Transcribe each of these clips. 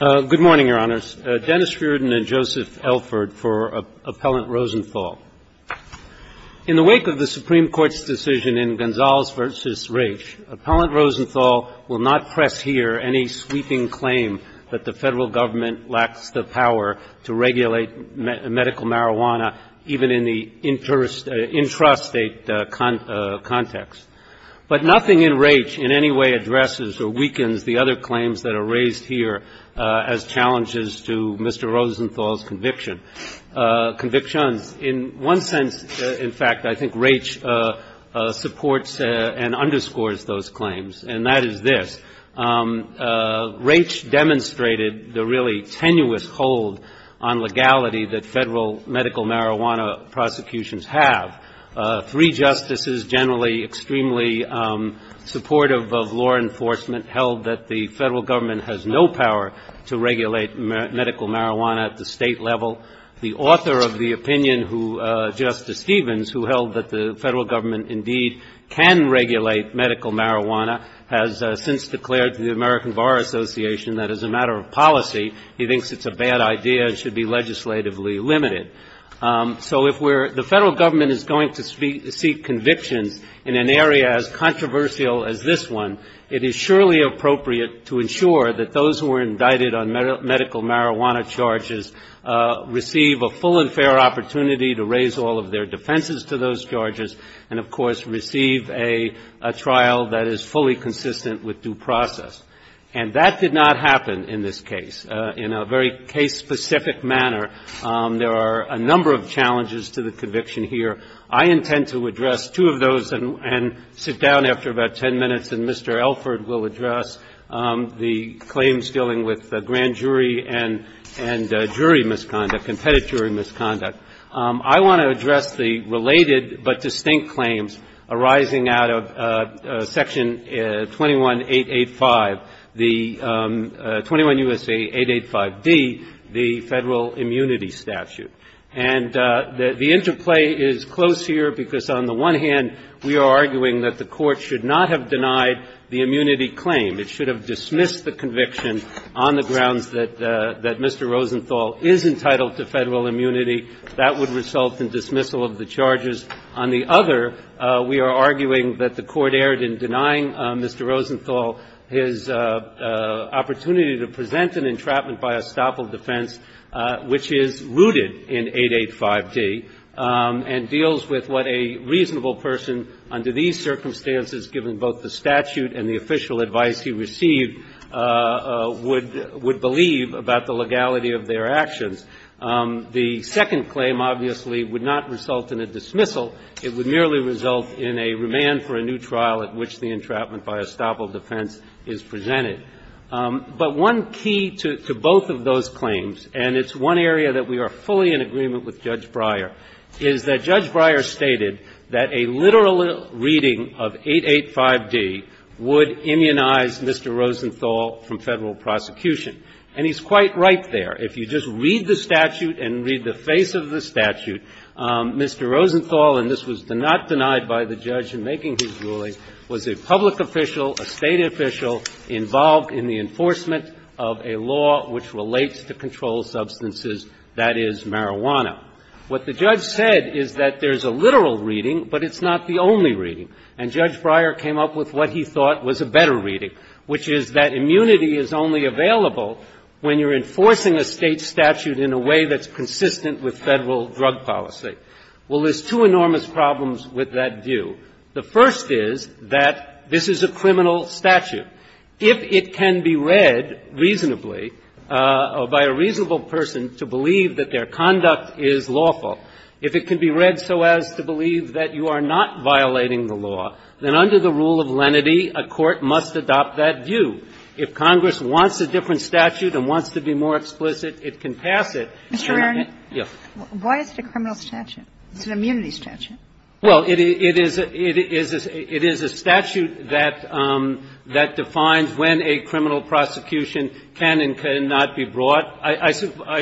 In the wake of the Supreme Court's decision in Gonzales v. Raich, Appellant Rosenthal will not press here any sweeping claim that the federal government lacks the power to regulate medical marijuana even in the intrastate context. But nothing in Raich in any way addresses or weakens the other claims that are raised here as challenges to Mr. Rosenthal's convictions. In one sense, in fact, I think Raich supports and underscores those claims, and that is this. Raich demonstrated the really tenuous hold on legality that federal medical marijuana prosecutions have. Three justices generally extremely supportive of law enforcement held that the federal government has no power to regulate medical marijuana at the state level. The author of the opinion, Justice Stevens, who held that the federal government indeed can regulate medical marijuana, has since declared to the American Bar Association that as a matter of policy he thinks it's a bad idea and should be legislatively limited. So if we're the federal government is going to seek convictions in an area as controversial as this one, it is surely appropriate to ensure that those who are indicted on medical marijuana charges receive a full and fair opportunity to raise all of their defenses to those charges and, of course, receive a trial that is fully consistent with due process. And that did not happen in this case. In a very case-specific manner, there are a number of challenges to the conviction here. I intend to address two of those and sit down after about ten minutes, and Mr. Elford will address the claims dealing with grand jury and jury misconduct, competitive jury misconduct. I want to address the related but distinct claims arising out of Section 21-885 the 21 U.S.A. 885d, the federal immunity statute. And the interplay is close here because on the one hand we are arguing that the court should not have denied the immunity claim. It should have dismissed the conviction on the grounds that Mr. Rosenthal is entitled to federal immunity. That would result in dismissal of the charges. On the other, we are arguing that the court erred in denying Mr. Rosenthal his opportunity to present an entrapment by estoppel defense, which is rooted in 885d, and deals with what a reasonable person under these circumstances, given both the statute and the official advice he received, would believe about the legality of their actions. The second claim, obviously, would not result in a dismissal. It would merely result in a remand for a new trial at which the entrapment by estoppel defense is presented. But one key to both of those claims, and it's one area that we are fully in agreement with Judge Breyer, is that Judge Breyer stated that a literal reading of 885d would immunize Mr. Rosenthal from federal prosecution. And he's quite right there. If you just read the statute and read the face of the statute, Mr. Rosenthal – and this was not denied by the judge in making his ruling – was a public official, a State official involved in the enforcement of a law which relates to controlled substances, that is, marijuana. What the judge said is that there's a literal reading, but it's not the only reading. And Judge Breyer came up with what he thought was a better reading, which is that the State statute in a way that's consistent with Federal drug policy. Well, there's two enormous problems with that view. The first is that this is a criminal statute. If it can be read reasonably, or by a reasonable person, to believe that their conduct is lawful, if it can be read so as to believe that you are not violating the law, then under the rule of lenity, a court must adopt that view. If Congress wants a different statute and wants to be more explicit, it can pass it. Kagan. Kagan. Yes. Why is it a criminal statute? It's an immunity statute. Well, it is a statute that defines when a criminal prosecution can and cannot be brought. I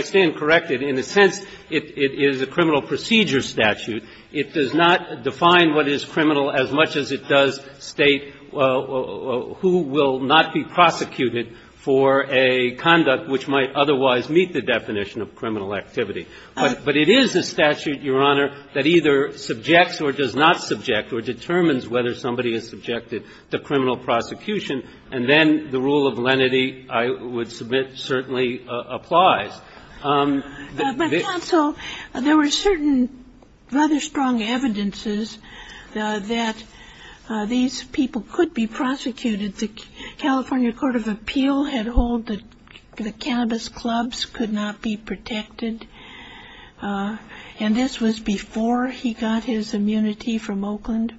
stand corrected. In a sense, it is a criminal procedure statute. It does not define what is criminal as much as it does state who will not be prosecuted for a conduct which might otherwise meet the definition of criminal activity. But it is a statute, Your Honor, that either subjects or does not subject or determines whether somebody is subjected to criminal prosecution. And then the rule of lenity, I would submit, certainly applies. But, counsel, there were certain rather strong evidences that these people could be prosecuted. The California Court of Appeal had hold that the cannabis clubs could not be protected, and this was before he got his immunity from Oakland?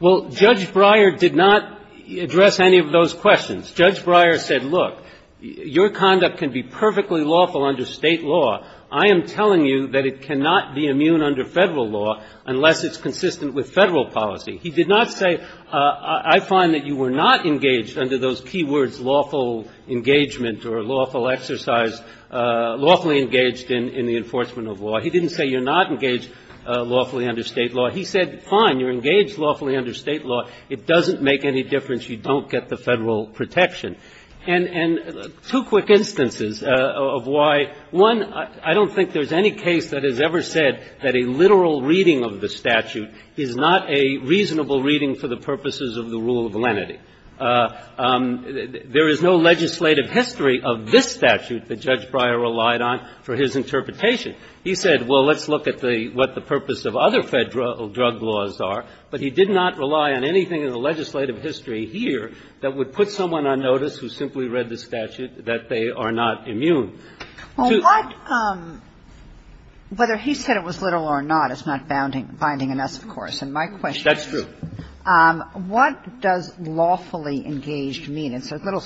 Well, Judge Breyer did not address any of those questions. Judge Breyer said, look, your conduct can be perfectly lawful under State law. I am telling you that it cannot be immune under Federal law unless it's consistent with Federal policy. He did not say, I find that you were not engaged under those key words, lawful engagement or lawful exercise, lawfully engaged in the enforcement of law. He didn't say you're not engaged lawfully under State law. He said, fine, you're engaged lawfully under State law. It doesn't make any difference. You don't get the Federal protection. And two quick instances of why, one, I don't think there's any case that has ever said that a literal reading of the statute is not a reasonable reading for the purposes of the rule of lenity. There is no legislative history of this statute that Judge Breyer relied on for his interpretation. He said, well, let's look at what the purpose of other Federal drug laws are. But he did not rely on anything in the legislative history here that would put someone on notice who simply read the statute that they are not immune. To the extent that it's not binding on us, of course, and my question is, what does lawfully engaged mean? It's a little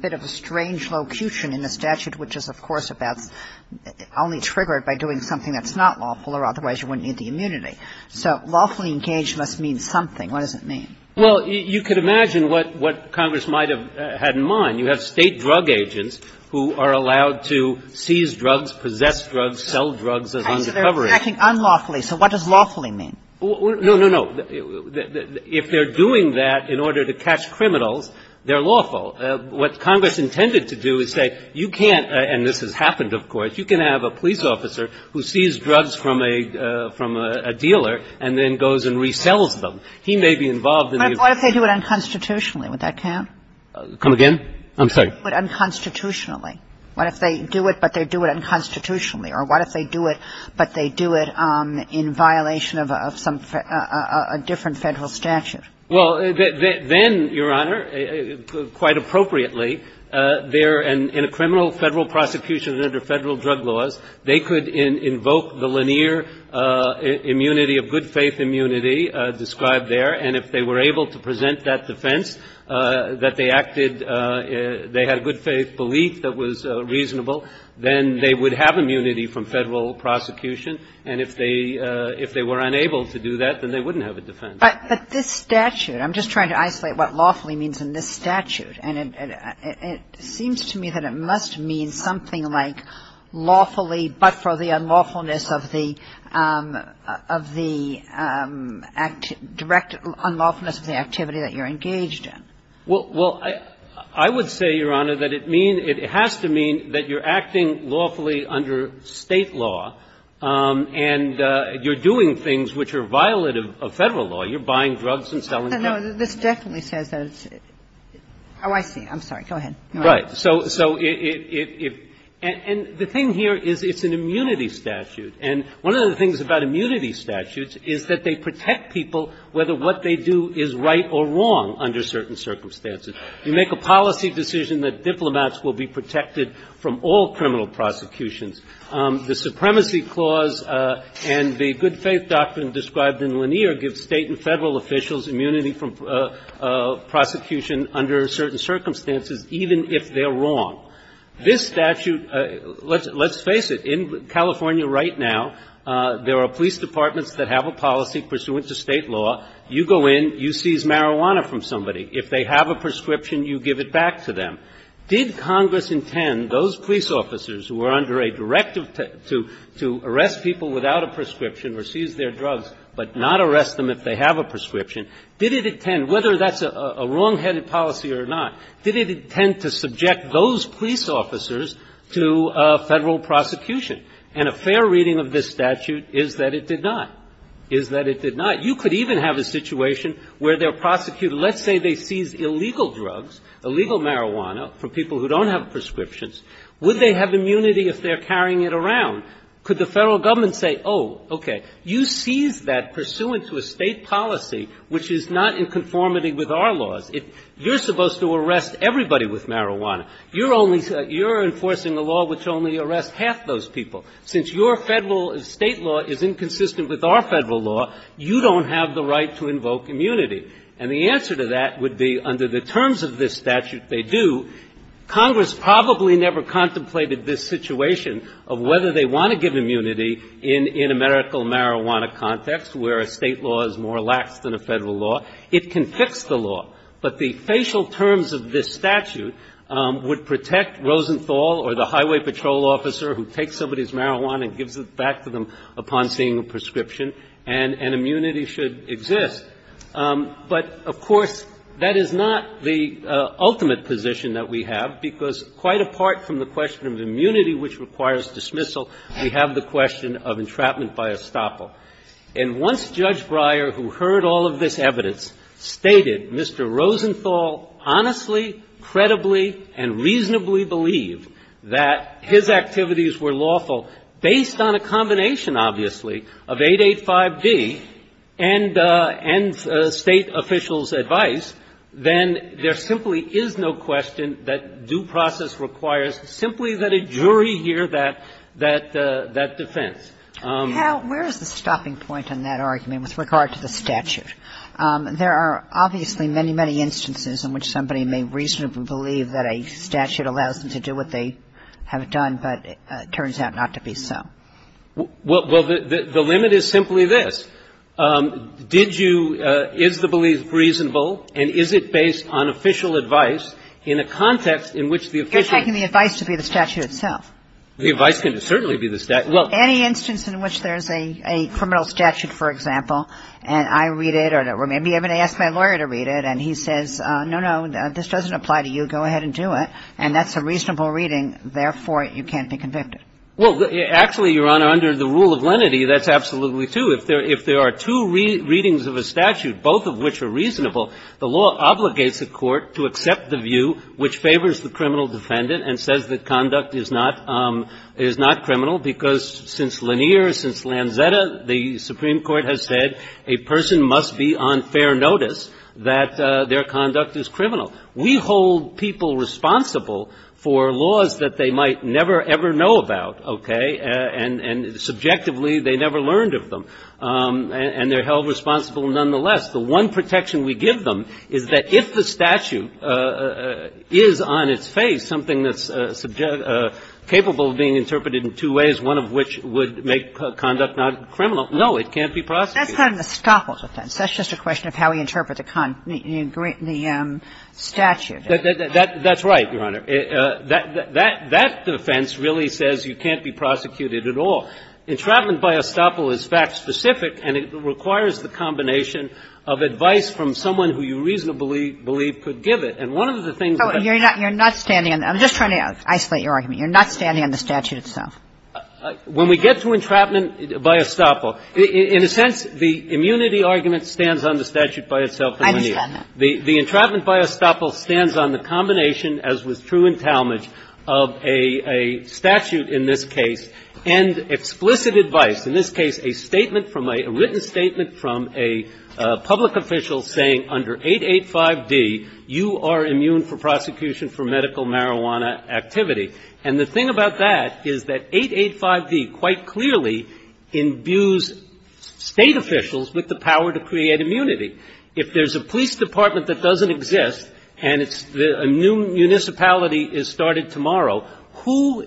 bit of a strange locution in the statute, which is, of course, about only triggered by doing something that's not lawful or otherwise you wouldn't need the immunity. So lawfully engaged must mean something. What does it mean? Well, you can imagine what Congress might have had in mind. You have State drug agents who are allowed to seize drugs, possess drugs, sell drugs as undercover. They're acting unlawfully, so what does lawfully mean? No, no, no. If they're doing that in order to catch criminals, they're lawful. What Congress intended to do is say, you can't – and this has happened, of course you can have a police officer who sees drugs from a dealer and then goes and resells them. He may be involved in a – But what if they do it unconstitutionally? Would that count? Come again? I'm sorry. But unconstitutionally. What if they do it, but they do it unconstitutionally? Or what if they do it, but they do it in violation of some – a different Federal statute? Well, then, Your Honor, quite appropriately, they're in a criminal Federal prosecution under Federal drug laws. They could invoke the linear immunity of good-faith immunity described there. And if they were able to present that defense, that they acted – they had a good-faith belief that was reasonable, then they would have immunity from Federal prosecution. And if they – if they were unable to do that, then they wouldn't have a defense. But this statute – I'm just trying to isolate what lawfully means in this statute. And it seems to me that it must mean something like lawfully, but for the unlawfulness of the – of the direct unlawfulness of the activity that you're engaged in. Well, I would say, Your Honor, that it mean – it has to mean that you're acting lawfully under State law, and you're doing things which are violative of Federal law. You're buying drugs and selling them. No, this definitely says that it's – oh, I see. I'm sorry. Go ahead. Right. So – so it – and the thing here is it's an immunity statute. And one of the things about immunity statutes is that they protect people whether what they do is right or wrong under certain circumstances. You make a policy decision that diplomats will be protected from all criminal prosecutions. The Supremacy Clause and the good-faith doctrine described in Lanier give State and Federal law the ability to protect people from prosecution under certain circumstances, even if they're wrong. This statute – let's face it. In California right now, there are police departments that have a policy pursuant to State law. You go in, you seize marijuana from somebody. If they have a prescription, you give it back to them. Did Congress intend those police officers who were under a directive to arrest people without a prescription or seize their drugs but not arrest them if they have a prescription, did it intend – whether that's a wrongheaded policy or not, did it intend to subject those police officers to Federal prosecution? And a fair reading of this statute is that it did not, is that it did not. You could even have a situation where they're prosecuted – let's say they seized illegal drugs, illegal marijuana from people who don't have prescriptions. Would they have immunity if they're carrying it around? Could the Federal Government say, oh, okay, you seized that pursuant to a State policy which is not in conformity with our laws. You're supposed to arrest everybody with marijuana. You're only – you're enforcing a law which only arrests half those people. Since your Federal and State law is inconsistent with our Federal law, you don't have the right to invoke immunity. And the answer to that would be, under the terms of this statute, they do. Congress probably never contemplated this situation of whether they want to give immunity in a medical marijuana context where a State law is more lax than a Federal law. It can fix the law. But the facial terms of this statute would protect Rosenthal or the highway patrol officer who takes somebody's marijuana and gives it back to them upon seeing a prescription, and immunity should exist. But, of course, that is not the ultimate position that we have, because quite apart from the question of immunity which requires dismissal, we have the question of entrapment by estoppel. And once Judge Breyer, who heard all of this evidence, stated Mr. Rosenthal honestly, credibly, and reasonably believed that his activities were lawful based on a combination, obviously, of 885D and State officials' advice, then there simply is no question that due process requires simply that a jury hear that defense. Kagan. Where is the stopping point on that argument with regard to the statute? There are obviously many, many instances in which somebody may reasonably believe that a statute allows them to do what they have done, but it turns out not to be so. Well, the limit is simply this. Did you – is the belief reasonable, and is it based on official advice in a context in which the official – You're taking the advice to be the statute itself. The advice can certainly be the – well – Any instance in which there's a criminal statute, for example, and I read it or maybe I'm going to ask my lawyer to read it, and he says, no, no, this doesn't apply to you, go ahead and do it, and that's a reasonable reading, therefore, you can't be convicted. Well, actually, Your Honor, under the rule of lenity, that's absolutely true. If there are two readings of a statute, both of which are reasonable, the law obligates the court to accept the view which favors the criminal defendant and says that conduct is not – is not criminal, because since Lanier, since Lanzetta, the Supreme Court has said a person must be on fair notice that their conduct is criminal. We hold people responsible for laws that they might never, ever know about, okay, and subjectively they never learned of them, and they're held responsible nonetheless. The one protection we give them is that if the statute is on its face, something that's capable of being interpreted in two ways, one of which would make conduct not criminal, no, it can't be prosecuted. That's not an escapist offense. That's just a question of how we interpret the statute. That's right, Your Honor. That defense really says you can't be prosecuted at all. Entrapment by estoppel is fact-specific, and it requires the combination of advice from someone who you reasonably believe could give it. And one of the things that you're not standing on – I'm just trying to isolate your argument. You're not standing on the statute itself. When we get to entrapment by estoppel, in a sense, the immunity argument stands on the statute by itself and when you need it. I understand that. The entrapment by estoppel stands on the combination, as was true in Talmadge, of a statute in this case and explicit advice, in this case a statement from a – a written statement from a public official saying under 885d, you are immune for prosecution for medical marijuana activity. And the thing about that is that 885d quite clearly imbues State officials with the power to create immunity. If there's a police department that doesn't exist and it's – a new municipality is started tomorrow, who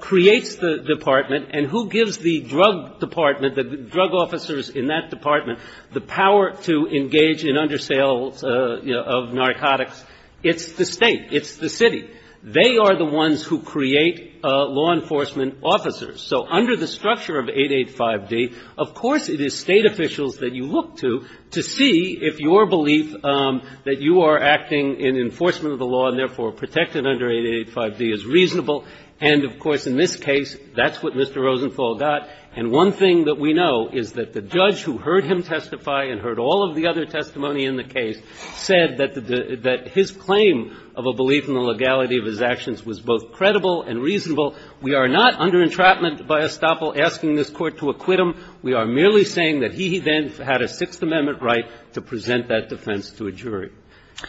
creates the department and who gives the drug department, the drug officers in that department, the power to engage in undersales of narcotics? It's the State. It's the City. They are the ones who create law enforcement officers. So under the structure of 885d, of course it is State officials that you look to, to see if your belief that you are acting in enforcement of the law and therefore protected under 885d is reasonable. And of course in this case, that's what Mr. Rosenthal got. And one thing that we know is that the judge who heard him testify and heard all of the other testimony in the case said that his claim of a belief in the legality of his actions was both credible and reasonable. We are not under entrapment by estoppel asking this Court to acquit him. We are merely saying that he then had a Sixth Amendment right to present that defense to a jury.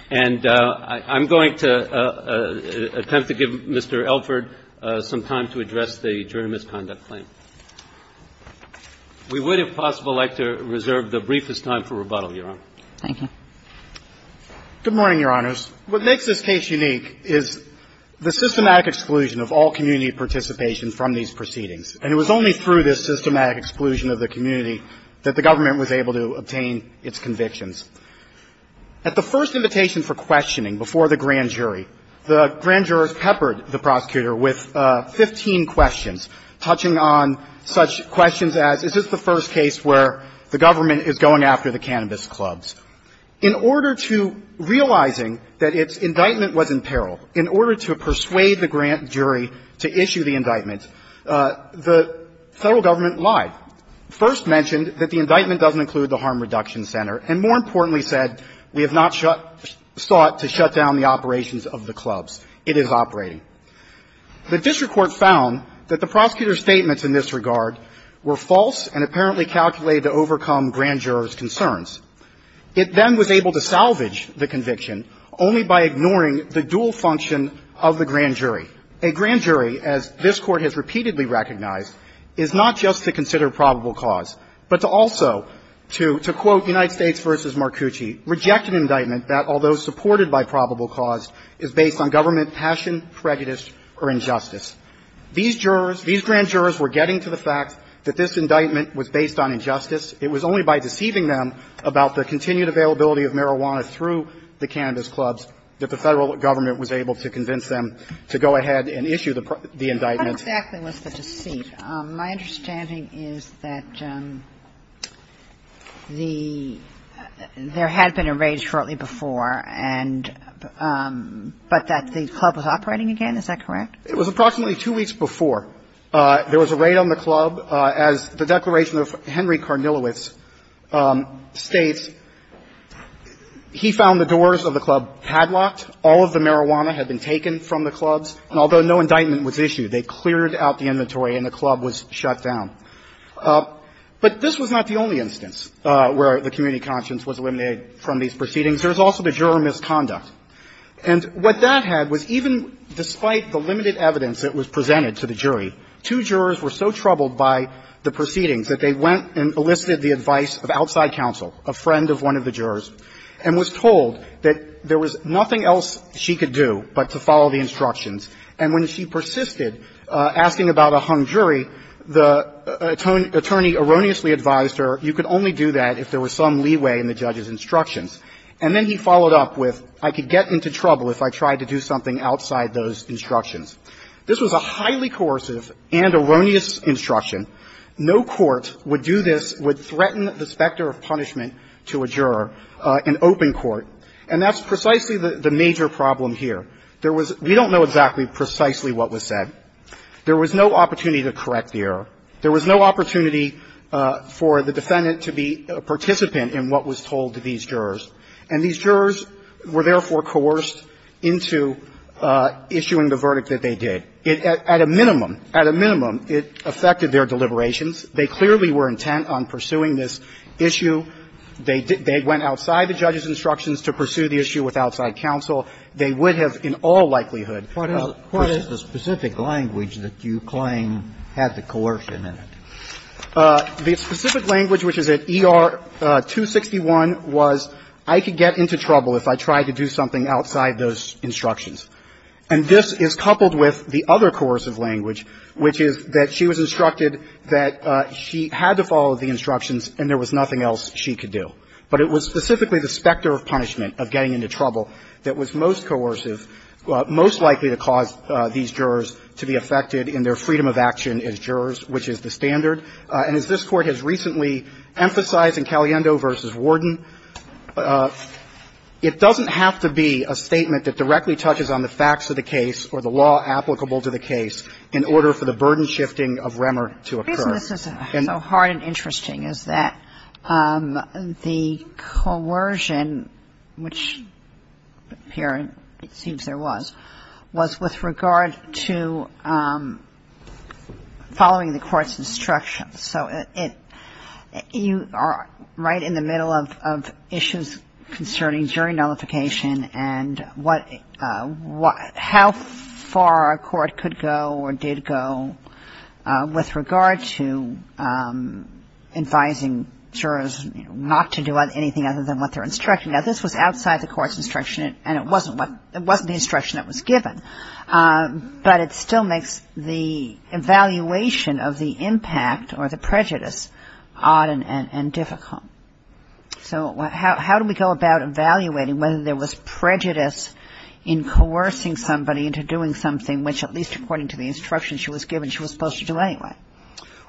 And I'm going to attempt to give Mr. Elford some time to address the jury misconduct claim. We would, if possible, like to reserve the briefest time for rebuttal, Your Honor. Thank you. Good morning, Your Honors. What makes this case unique is the systematic exclusion of all community participation from these proceedings. And it was only through this systematic exclusion of the community that the government was able to obtain its convictions. At the first invitation for questioning before the grand jury, the grand jurors peppered the prosecutor with 15 questions, touching on such questions as, is this the first case where the government is going after the cannabis clubs? In order to realizing that its indictment was in peril, in order to persuade the grand jury to issue the indictment, the Federal government lied, first mentioned that the indictment doesn't include the Harm Reduction Center, and more importantly said, we have not sought to shut down the operations of the clubs. It is operating. The district court found that the prosecutor's statements in this regard were false and apparently calculated to overcome grand jurors' concerns. It then was able to salvage the conviction only by ignoring the dual function of the grand jury. A grand jury, as this Court has repeatedly recognized, is not just to consider a probable cause, but to also to quote United States v. Marcucci, reject an indictment that, although supported by probable cause, is based on government passion, prejudice, or injustice. These jurors, these grand jurors were getting to the fact that this indictment was based on injustice. It was only by deceiving them about the continued availability of marijuana through the cannabis clubs that the Federal government was able to convince them to go ahead and issue the indictment. So what exactly was the deceit? My understanding is that the – there had been a raid shortly before, and – but that the club was operating again, is that correct? It was approximately two weeks before. There was a raid on the club. As the declaration of Henry Carnilowicz states, he found the doors of the club padlocked. All of the marijuana had been taken from the clubs. And although no indictment was issued, they cleared out the inventory and the club was shut down. But this was not the only instance where the community conscience was eliminated from these proceedings. There was also the juror misconduct. And what that had was even despite the limited evidence that was presented to the jury, two jurors were so troubled by the proceedings that they went and elicited the advice of outside counsel, a friend of one of the jurors, and was told that there was nothing else she could do but to follow the instructions. And when she persisted, asking about a hung jury, the attorney erroneously advised her, you could only do that if there was some leeway in the judge's instructions. And then he followed up with, I could get into trouble if I tried to do something outside those instructions. This was a highly coercive and erroneous instruction. No court would do this, would threaten the specter of punishment to a juror in open court. And that's precisely the major problem here. There was – we don't know exactly precisely what was said. There was no opportunity to correct the error. There was no opportunity for the defendant to be a participant in what was told to these jurors. And these jurors were therefore coerced into issuing the verdict that they did. At a minimum, at a minimum, it affected their deliberations. They clearly were intent on pursuing this issue. They went outside the judge's instructions to pursue the issue with outside counsel. They would have in all likelihood pursued the specific language that you claim had the coercion in it. The specific language, which is at ER 261, was, I could get into trouble if I tried to do something outside those instructions. And this is coupled with the other coercive language, which is that she was instructed that she had to follow the instructions and there was nothing else she could do. But it was specifically the specter of punishment, of getting into trouble, that was most coercive, most likely to cause these jurors to be affected in their freedom of action as jurors, which is the standard. And as this Court has recently emphasized in Caliendo v. Warden, it doesn't have to be a statement that directly touches on the facts of the case or the law applicable to the case in order for the burden-shifting of remor to occur. And the reason this is so hard and interesting is that the coercion, which here it seems there was, was with regard to following the court's instructions. So it you are right in the middle of issues concerning jury nullification where the court could go or did go with regard to advising jurors not to do anything other than what they're instructed. Now, this was outside the court's instruction and it wasn't the instruction that was given. But it still makes the evaluation of the impact or the prejudice odd and difficult. So how do we go about evaluating whether there was prejudice in coercing somebody into doing something which, at least according to the instruction she was given, she was supposed to do anyway?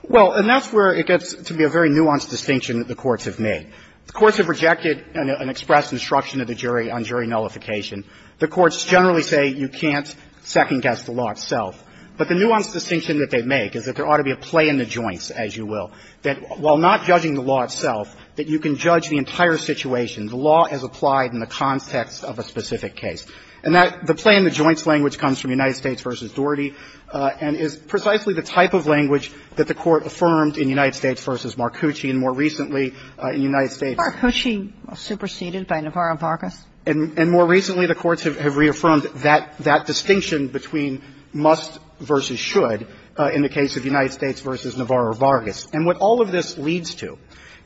Well, and that's where it gets to be a very nuanced distinction that the courts have made. The courts have rejected an expressed instruction of the jury on jury nullification. The courts generally say you can't second-guess the law itself. But the nuanced distinction that they make is that there ought to be a play in the joints, as you will, that while not judging the law itself, that you can judge the entire situation. The law has applied in the context of a specific case. And that the play in the joints language comes from United States v. Doherty and is precisely the type of language that the Court affirmed in United States v. Marcucci and more recently in United States. Kagan. Marcucci was superseded by Navarro-Vargas. And more recently, the courts have reaffirmed that distinction between must versus should in the case of United States v. Navarro-Vargas. And what all of this leads to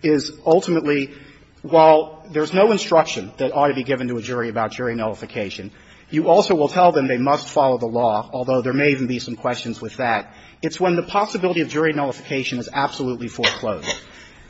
is, ultimately, while there's no instruction that ought to be given to a jury about jury nullification, you also will tell them they must follow the law, although there may even be some questions with that. It's when the possibility of jury nullification is absolutely foreclosed.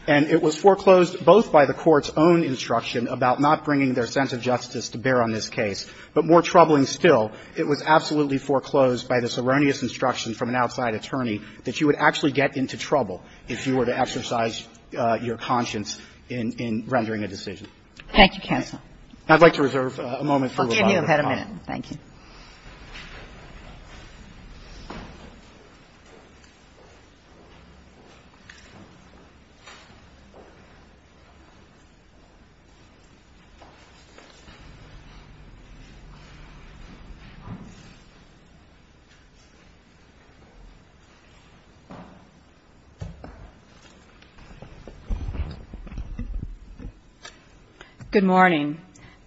And it was foreclosed both by the Court's own instruction about not bringing their sense of justice to bear on this case, but more troubling still, it was absolutely foreclosed by this erroneous instruction from an outside attorney that you would actually get into trouble if you were to exercise your conscience in rendering a decision. Thank you, counsel. I'd like to reserve a moment for rebuttal. I'll give you a minute. Thank you. Good morning.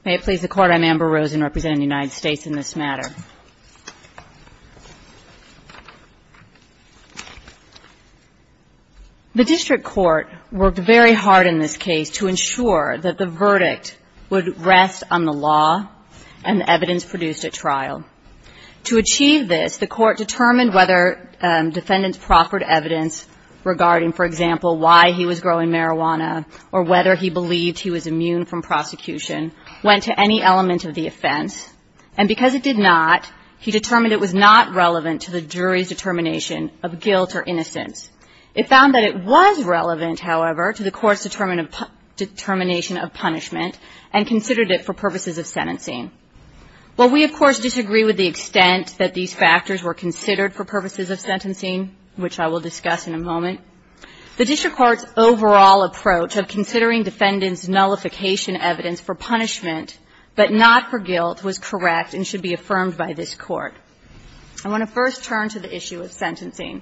May it please the Court, I'm Amber Rosen representing the United States in this matter. The district court worked very hard in this case to ensure that the verdict would rest on the law and the evidence produced at trial. To achieve this, the Court determined whether defendants' proffered evidence regarding, for example, why he was growing marijuana or whether he believed he was immune from prosecution went to any element of the offense. And because it did not, he determined it was not relevant to the jury's determination of guilt or innocence. It found that it was relevant, however, to the Court's determination of punishment and considered it for purposes of sentencing. While we, of course, disagree with the extent that these factors were considered for purposes of sentencing, which I will discuss in a moment, the district court's overall approach of considering defendants' nullification evidence for punishment but not for guilt was correct and should be affirmed by this Court. I want to first turn to the issue of sentencing.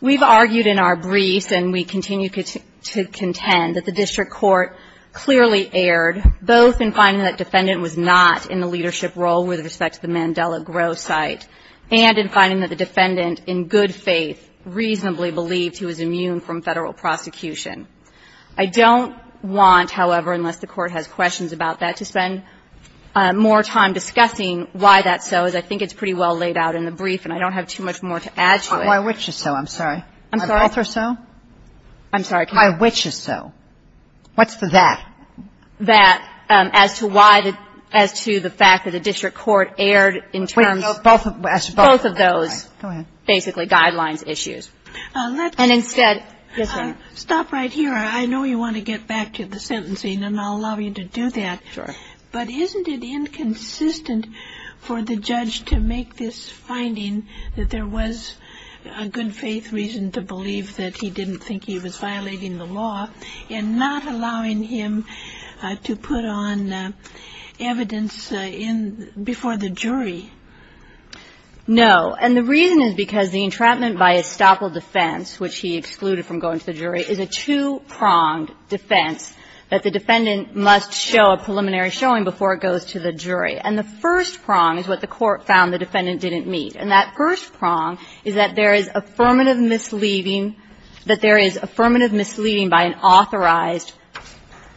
We've argued in our briefs and we continue to contend that the district court clearly erred both in finding that defendant was not in the leadership role with respect to the Mandela Grow site and in finding that the defendant, in good faith, reasonably believed he was immune from Federal prosecution. I don't want, however, unless the Court has questions about that, to spend more time discussing why that's so, as I think it's pretty well laid out in the brief and I don't have too much more to add to it. Kagan. I'm sorry. My which is so. What's the that? That as to why the – as to the fact that the district court erred in terms of both of those basically guidelines issues. And instead – yes, ma'am? Stop right here. I know you want to get back to the sentencing and I'll allow you to do that. Sure. I'm just wondering if there was a good faith reason to believe that he didn't think he was violating the law in not allowing him to put on evidence in – before the jury. No. And the reason is because the entrapment by estoppel defense, which he excluded from going to the jury, is a two-pronged defense that the defendant must show a preliminary showing before it goes to the jury. And the first prong is what the court found the defendant didn't meet. And that first prong is that there is affirmative misleading – that there is affirmative misleading by an authorized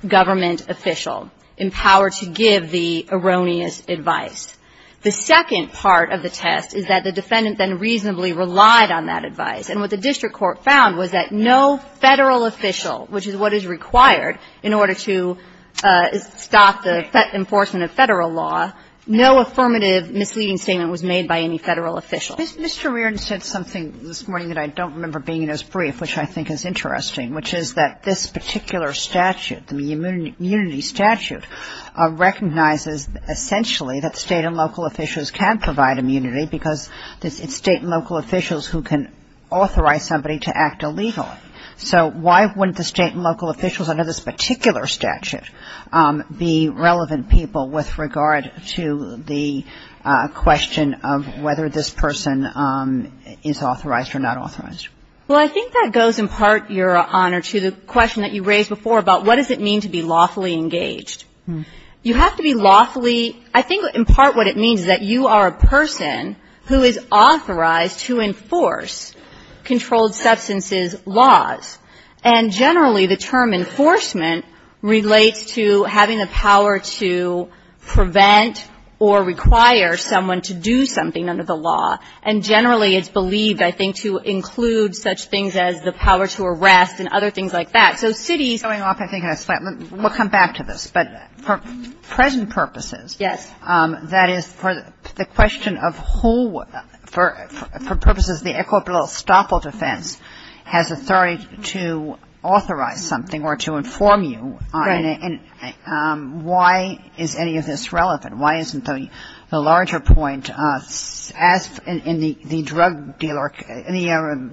government official empowered to give the erroneous advice. The second part of the test is that the defendant then reasonably relied on that advice. And what the district court found was that no Federal official, which is what is required in order to stop the enforcement of Federal law, no affirmative misleading statement was made by any Federal official. Mr. Reardon said something this morning that I don't remember being as brief, which I think is interesting, which is that this particular statute, the immunity statute, recognizes essentially that State and local officials can provide immunity because it's State and local officials who can authorize somebody to act illegally. So why wouldn't the State and local officials under this particular statute be relevant people with regard to the question of whether this person is authorized or not authorized? Well, I think that goes in part, Your Honor, to the question that you raised before about what does it mean to be lawfully engaged. You have to be lawfully – I think in part what it means is that you are a person who is authorized to enforce controlled substances laws. And generally, the term enforcement relates to having the power to prevent or require someone to do something under the law. And generally, it's believed, I think, to include such things as the power to arrest and other things like that. So cities – Kagan. Going off, I think, in a split, we'll come back to this. But for present purposes – Yes. That is, for the question of who – for purposes of the equitable estoppel defense has authority to authorize something or to inform you on it. Right. And why is any of this relevant? Why isn't the larger point, as in the drug dealer – in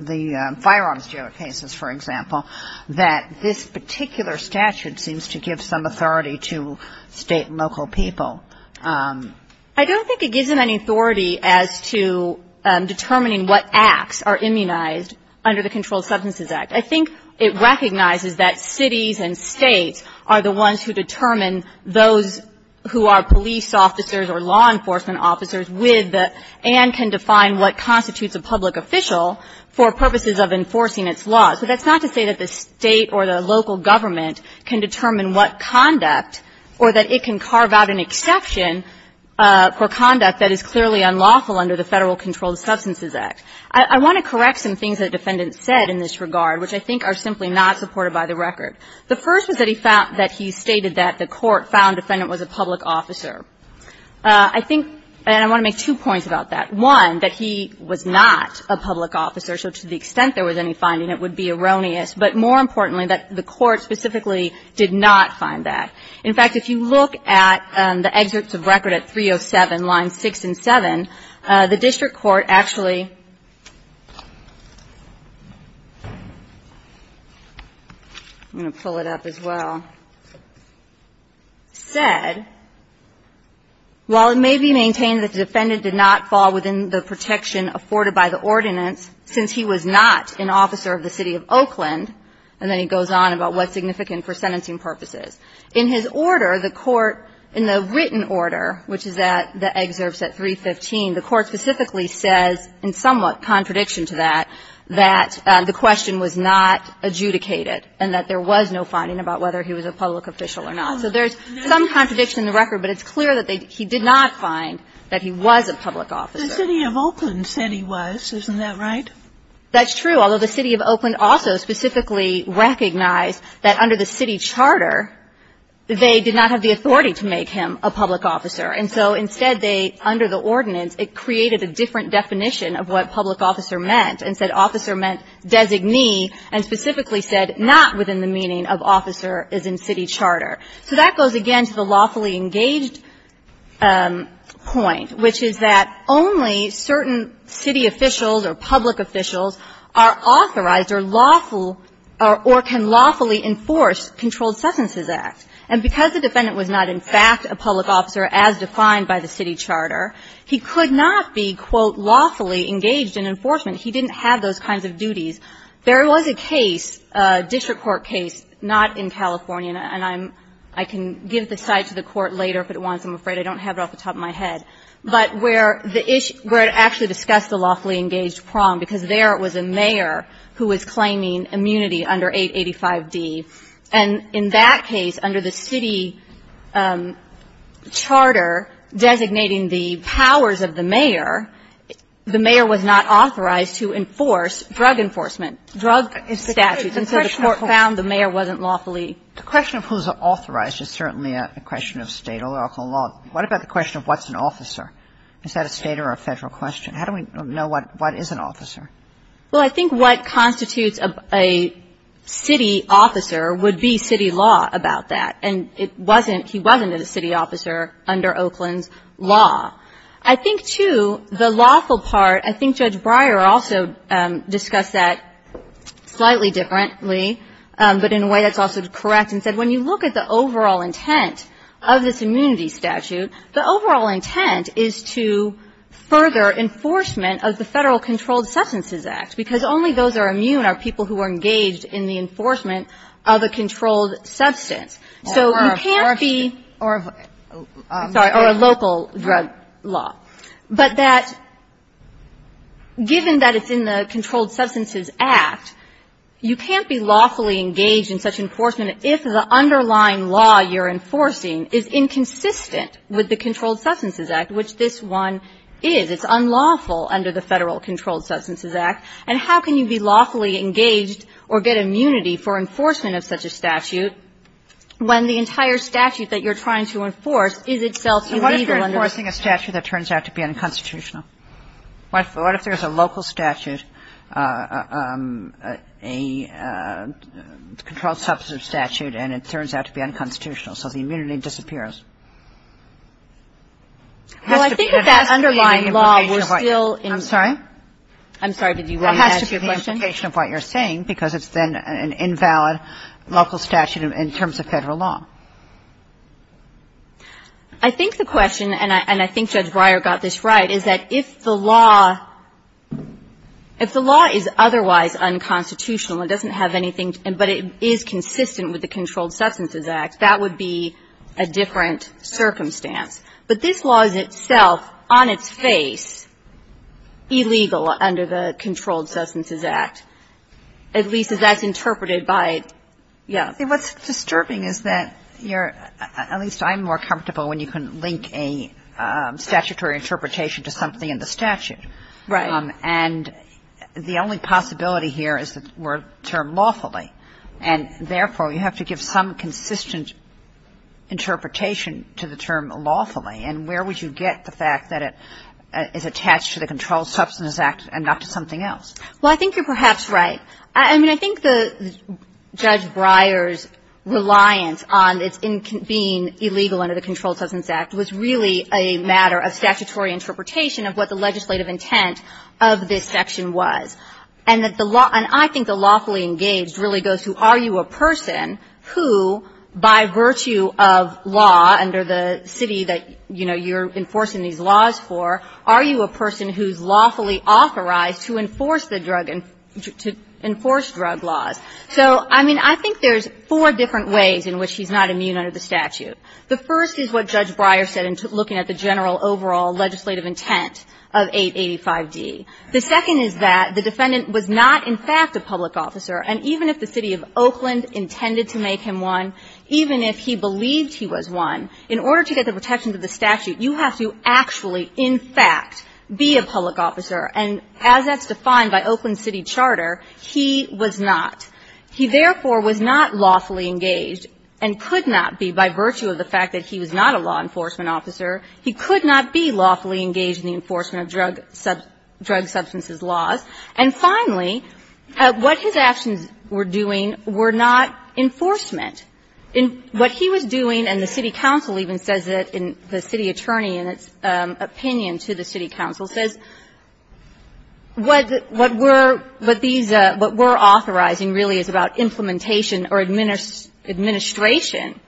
the firearms dealer cases, for example, that this particular statute seems to give some authority to State and local people? I don't think it gives them any authority as to determining what acts are immunized under the Controlled Substances Act. I think it recognizes that cities and States are the ones who determine those who are police officers or law enforcement officers with the – and can define what constitutes a public official for purposes of enforcing its laws. But that's not to say that the State or the local government can determine what conduct or that it can carve out an exception for conduct that is clearly unlawful under the Federal Controlled Substances Act. I want to correct some things that the defendant said in this regard, which I think are simply not supported by the record. The first was that he found – that he stated that the court found the defendant was a public officer. I think – and I want to make two points about that. One, that he was not a public officer, so to the extent there was any finding, it would be erroneous. But more importantly, that the court specifically did not find that. In fact, if you look at the excerpts of record at 307, lines 6 and 7, the district court actually – I'm going to pull it up as well – said, while it may be maintained that the defendant did not fall within the protection afforded by the ordinance since he was not an officer of the city of Oakland, and then he goes on about what's significant for sentencing purposes. In his order, the court – in the written order, which is at the excerpts at 315, the court specifically says, in somewhat contradiction to that, that the question was not adjudicated and that there was no finding about whether he was a public official or not. So there's some contradiction in the record, but it's clear that he did not find that he was a public officer. The city of Oakland said he was. Isn't that right? That's true, although the city of Oakland also specifically recognized that under the city charter, they did not have the authority to make him a public officer. And so instead, they – under the ordinance, it created a different definition of what public officer meant and said officer meant designee and specifically said not within the meaning of officer is in city charter. So that goes again to the lawfully engaged point, which is that only certain city officials or public officials are authorized or lawful or can lawfully enforce controlled sentences act. And because the defendant was not in fact a public officer as defined by the city charter, he could not be, quote, lawfully engaged in enforcement. He didn't have those kinds of duties. There was a case, a district court case, not in California, and I'm – I can give this side to the court later if it wants. I'm afraid I don't have it off the top of my head. But where the issue – where it actually discussed the lawfully engaged problem because there it was a mayor who was claiming immunity under 885D. And in that case, under the city charter designating the powers of the mayor, the mayor was not authorized to enforce drug enforcement, drug statutes. And so the court found the mayor wasn't lawfully engaged. Kagan. The question of who's authorized is certainly a question of State or local law. What about the question of what's an officer? Is that a State or a Federal question? How do we know what is an officer? Well, I think what constitutes a city officer would be city law about that. And it wasn't – he wasn't a city officer under Oakland's law. I think, too, the lawful part – I think Judge Breyer also discussed that slightly differently, but in a way that's also correct, and said when you look at the overall intent of this immunity statute, the overall intent is to further enforcement of the Federal Controlled Substances Act, because only those are immune are people who are engaged in the enforcement of a controlled substance. So you can't be – Or a force. Right. But that – given that it's in the Controlled Substances Act, you can't be lawfully engaged in such enforcement if the underlying law you're enforcing is inconsistent with the Controlled Substances Act, which this one is. It's unlawful under the Federal Controlled Substances Act. And how can you be lawfully engaged or get immunity for enforcement of such a statute when the entire statute that you're trying to enforce is itself illegal under the Statute? What if you're enforcing a statute that turns out to be unconstitutional? What if there's a local statute, a controlled substance statute, and it turns out to be unconstitutional, so the immunity disappears? Well, I think that that underlying law was still in – I'm sorry? I'm sorry. Did you want to add to your question? Because it's then an invalid local statute in terms of Federal law. I think the question, and I think Judge Breyer got this right, is that if the law – if the law is otherwise unconstitutional, it doesn't have anything – but it is consistent with the Controlled Substances Act, that would be a different circumstance. But this law is itself, on its face, illegal under the Controlled Substances Act, at least as that's interpreted by – yeah. I think what's disturbing is that you're – at least I'm more comfortable when you can link a statutory interpretation to something in the statute. Right. And the only possibility here is that we're termed lawfully. And, therefore, you have to give some consistent interpretation to the term lawfully, and where would you get the fact that it is attached to the Controlled Substances Act and not to something else? Well, I think you're perhaps right. I mean, I think the – Judge Breyer's reliance on its being illegal under the Controlled Substances Act was really a matter of statutory interpretation of what the legislative intent of this section was. And that the law – and I think the lawfully engaged really goes to are you a person who, by virtue of law under the city that, you know, you're enforcing these laws for, are you a person who's lawfully authorized to enforce the drug – to enforce drug laws. So, I mean, I think there's four different ways in which he's not immune under the statute. The first is what Judge Breyer said in looking at the general overall legislative intent of 885d. The second is that the defendant was not, in fact, a public officer. And even if the city of Oakland intended to make him one, even if he believed he was one, in order to get the protection of the statute, you have to actually, in fact, be a public officer. And as that's defined by Oakland City Charter, he was not. He, therefore, was not lawfully engaged and could not be by virtue of the fact that he was not a law enforcement officer. He could not be lawfully engaged in the enforcement of drug substances laws. And finally, what his actions were doing were not enforcement. In what he was doing, and the city council even says that in the city attorney in its opinion to the city council, says what these, what we're authorizing really is about implementation or administration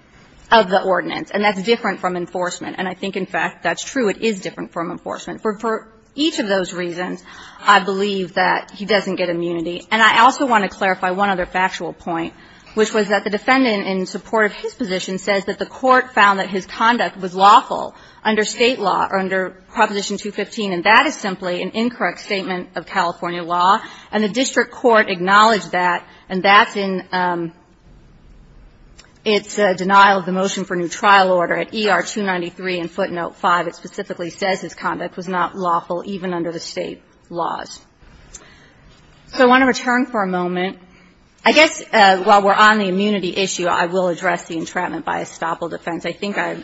of the ordinance, and that's different from enforcement. And I think, in fact, that's true. It is different from enforcement. For each of those reasons, I believe that he doesn't get immunity. And I also want to clarify one other factual point, which was that the defendant in support of his position says that the court found that his conduct was lawful under State law or under Proposition 215, and that is simply an incorrect statement of California law. And the district court acknowledged that, and that's in its denial of the motion for new trial order at ER 293 and footnote 5. It specifically says his conduct was not lawful even under the State laws. So I want to return for a moment. I guess while we're on the immunity issue, I will address the entrapment by estoppel defense. I think I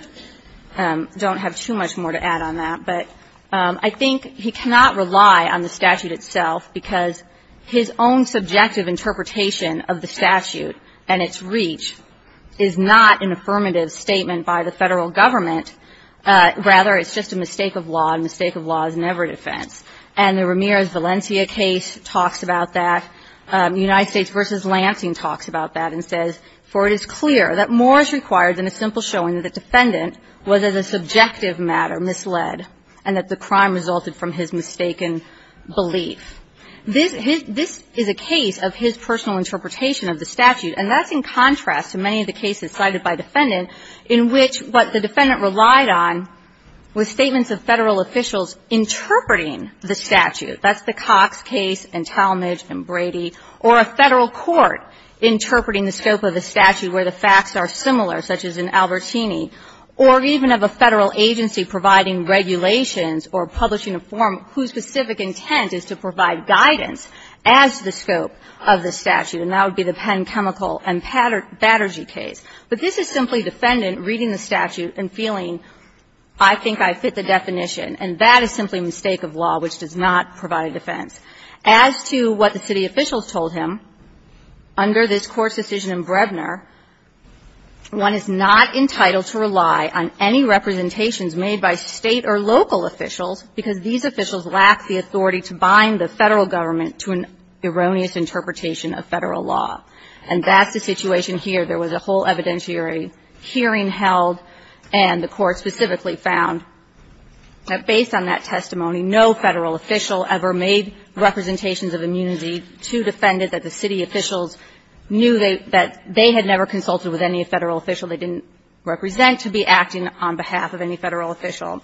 don't have too much more to add on that, but I think he cannot rely on the statute itself, because his own subjective interpretation of the statute and its reach is not an affirmative statement by the Federal Government. Rather, it's just a mistake of law, and a mistake of law is never a defense. And the Ramirez-Valencia case talks about that. United States v. Lansing talks about that and says, For it is clear that more is required than a simple showing that the defendant was, as a subjective matter, misled and that the crime resulted from his mistaken belief. This is a case of his personal interpretation of the statute. And that's in contrast to many of the cases cited by defendant in which what the defendant relied on was statements of Federal officials interpreting the statute. That's the Cox case and Talmadge and Brady. Or a Federal court interpreting the scope of the statute where the facts are similar, such as in Albertini. Or even of a Federal agency providing regulations or publishing a form whose specific intent is to provide guidance as to the scope of the statute. And that would be the Penn Chemical and Battergy case. But this is simply defendant reading the statute and feeling, I think I fit the definition. And that is simply a mistake of law, which does not provide a defense. As to what the city officials told him, under this Court's decision in Brebner, one is not entitled to rely on any representations made by State or local officials because these officials lack the authority to bind the Federal Government to an erroneous interpretation of Federal law. And that's the situation here. There was a whole evidentiary hearing held, and the Court specifically found that based on that testimony, no Federal official ever made representations of immunity to defend it, that the city officials knew that they had never consulted with any Federal official they didn't represent to be acting on behalf of any Federal official.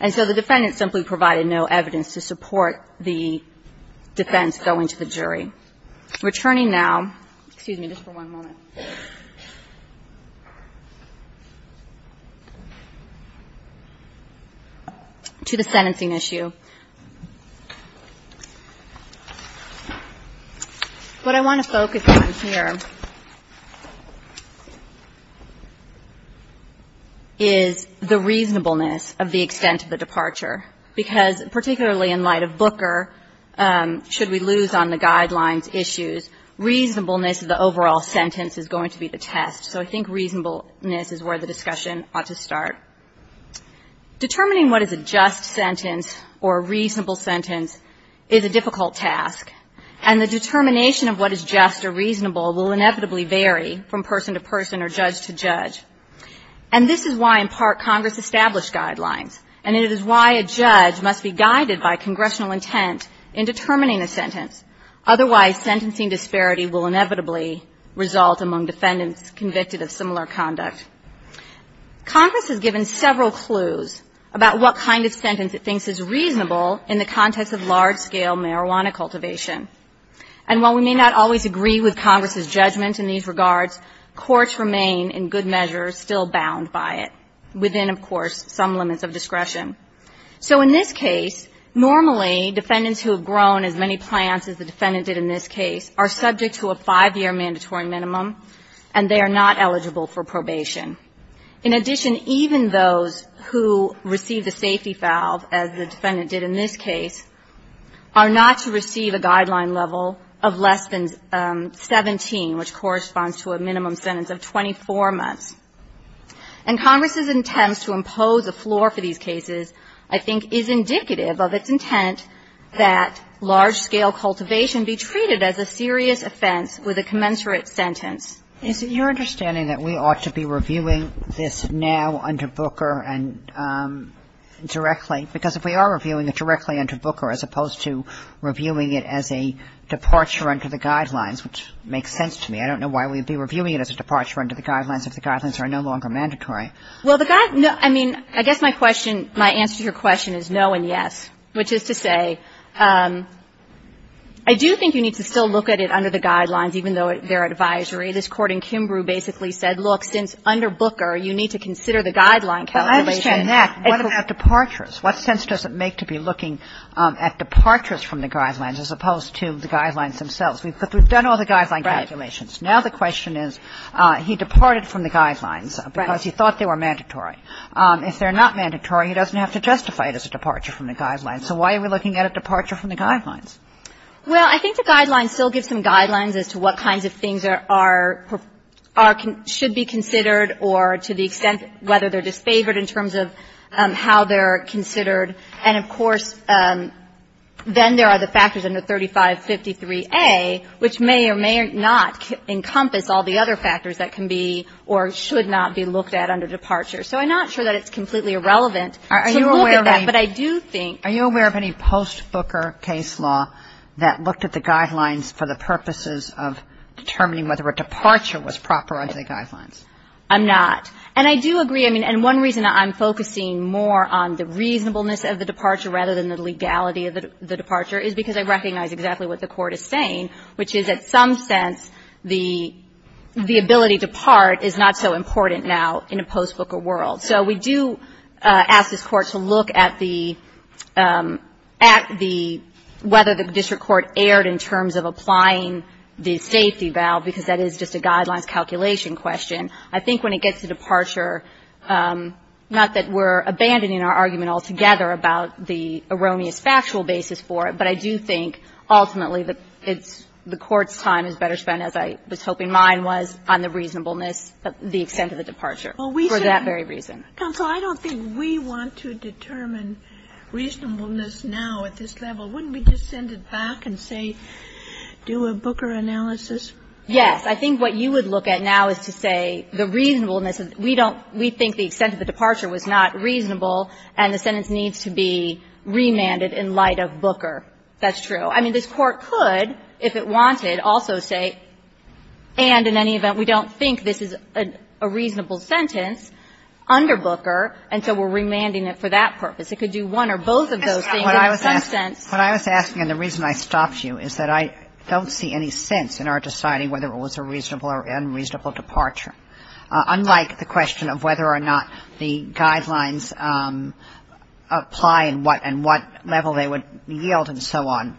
And so the defendant simply provided no evidence to support the defense going to the court. Returning now, excuse me just for one moment, to the sentencing issue. What I want to focus on here is the reasonableness of the extent of the departure. Because particularly in light of Booker, should we lose on the guidelines issues, reasonableness of the overall sentence is going to be the test. So I think reasonableness is where the discussion ought to start. Determining what is a just sentence or a reasonable sentence is a difficult task. And the determination of what is just or reasonable will inevitably vary from person to person or judge to judge. And this is why, in part, Congress established guidelines. And it is why a judge must be guided by congressional intent in determining a sentence. Otherwise, sentencing disparity will inevitably result among defendants convicted of similar conduct. Congress has given several clues about what kind of sentence it thinks is reasonable in the context of large-scale marijuana cultivation. And while we may not always agree with Congress's judgment in these regards, courts remain, in good measure, still bound by it, within, of course, some limits of discretion. So in this case, normally defendants who have grown as many plants as the defendant did in this case are subject to a five-year mandatory minimum, and they are not eligible for probation. In addition, even those who received a safety valve, as the defendant did in this case, are not to receive a guideline level of less than 17, which corresponds to a minimum sentence of 24 months. And Congress's intent to impose a floor for these cases, I think, is indicative of its intent that large-scale cultivation be treated as a serious offense with a commensurate sentence. Kagan. Is it your understanding that we ought to be reviewing this now under Booker and directly? Because if we are reviewing it directly under Booker, as opposed to reviewing it as a departure under the guidelines, which makes sense to me. I don't know why we would be reviewing it as a departure under the guidelines if the guidelines are no longer mandatory. Well, the guide no – I mean, I guess my question, my answer to your question is no and yes, which is to say I do think you need to still look at it under the guidelines, even though they're advisory. This Court in Kimbrough basically said, look, since under Booker, you need to consider the guideline calculation. Well, I understand that. What about departures? What sense does it make to be looking at departures from the guidelines as opposed to the guidelines themselves? We've done all the guideline calculations. Right. Now the question is, he departed from the guidelines because he thought they were mandatory. If they're not mandatory, he doesn't have to justify it as a departure from the guidelines. So why are we looking at a departure from the guidelines? Well, I think the guidelines still give some guidelines as to what kinds of things are – should be considered or to the extent whether they're disfavored in terms of how they're considered. And, of course, then there are the factors under 3553A, which may or may not encompass all the other factors that can be or should not be looked at under departure. So I'm not sure that it's completely irrelevant to look at that. Are you aware of any post-Booker case law that looked at the guidelines for the purposes of determining whether a departure was proper under the guidelines? I'm not. And I do agree. I mean, and one reason I'm focusing more on the reasonableness of the departure rather than the legality of the departure is because I recognize exactly what the Court is saying, which is that some sense the ability to part is not so important now in a post-Booker world. So we do ask this Court to look at the – at the – whether the district court erred in terms of applying the safety valve, because that is just a guidelines calculation question. I think when it gets to departure, not that we're abandoning our argument altogether about the erroneous factual basis for it, but I do think ultimately that it's – the Court's time is better spent, as I was hoping mine was, on the reasonableness of the extent of the departure for that very reason. Counsel, I don't think we want to determine reasonableness now at this level. Wouldn't we just send it back and say, do a Booker analysis? Yes. I think what you would look at now is to say the reasonableness. We don't – we think the extent of the departure was not reasonable, and the sentence needs to be remanded in light of Booker. That's true. I mean, this Court could, if it wanted, also say, and in any event, we don't think this is a reasonable sentence under Booker, and so we're remanding it for that purpose. It could do one or both of those things in some sense. But I was asking, and the reason I stopped you is that I don't see any sense in our deciding whether it was a reasonable or unreasonable departure. Unlike the question of whether or not the guidelines apply and what – and what level they would yield and so on,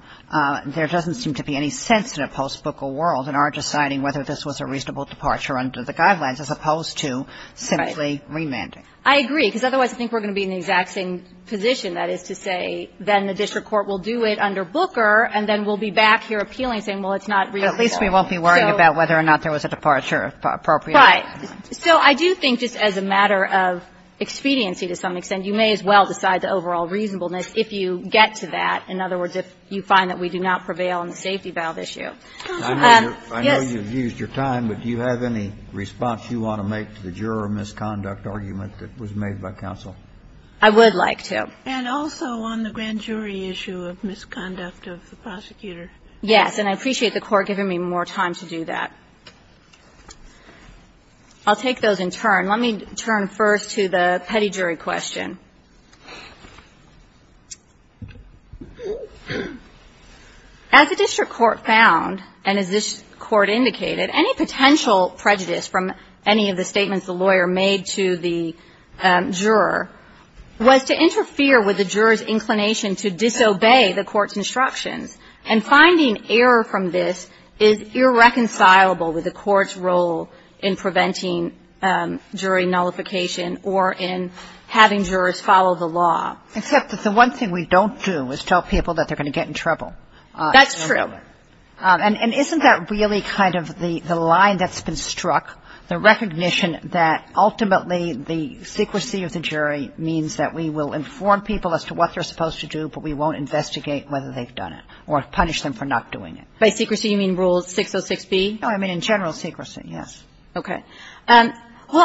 there doesn't seem to be any sense in a post-Booker world in our deciding whether this was a reasonable departure under the guidelines as opposed to simply remanding. Right. I agree, because otherwise I think we're going to be in the exact same position. That is to say, then the district court will do it under Booker, and then we'll be back here appealing, saying, well, it's not reasonable. At least we won't be worried about whether or not there was a departure, if appropriate. Right. So I do think just as a matter of expediency to some extent, you may as well decide the overall reasonableness if you get to that. In other words, if you find that we do not prevail on the safety valve issue. Yes. I know you've used your time, but do you have any response you want to make to the juror misconduct argument that was made by counsel? I would like to. And also on the grand jury issue of misconduct of the prosecutor. Yes. And I appreciate the Court giving me more time to do that. I'll take those in turn. Let me turn first to the petty jury question. As the district court found, and as this Court indicated, any potential prejudice from any of the statements the lawyer made to the juror was to interfere with the juror's inclination to disobey the court's instructions. And finding error from this is irreconcilable with the court's role in preventing jury nullification or in having jurors follow the law. Except that the one thing we don't do is tell people that they're going to get in trouble. That's true. And isn't that really kind of the line that's been struck? The recognition that ultimately the secrecy of the jury means that we will inform people as to what they're supposed to do, but we won't investigate whether they've done it or punish them for not doing it. By secrecy, you mean Rule 606B? No, I mean in general secrecy, yes. Okay. Well,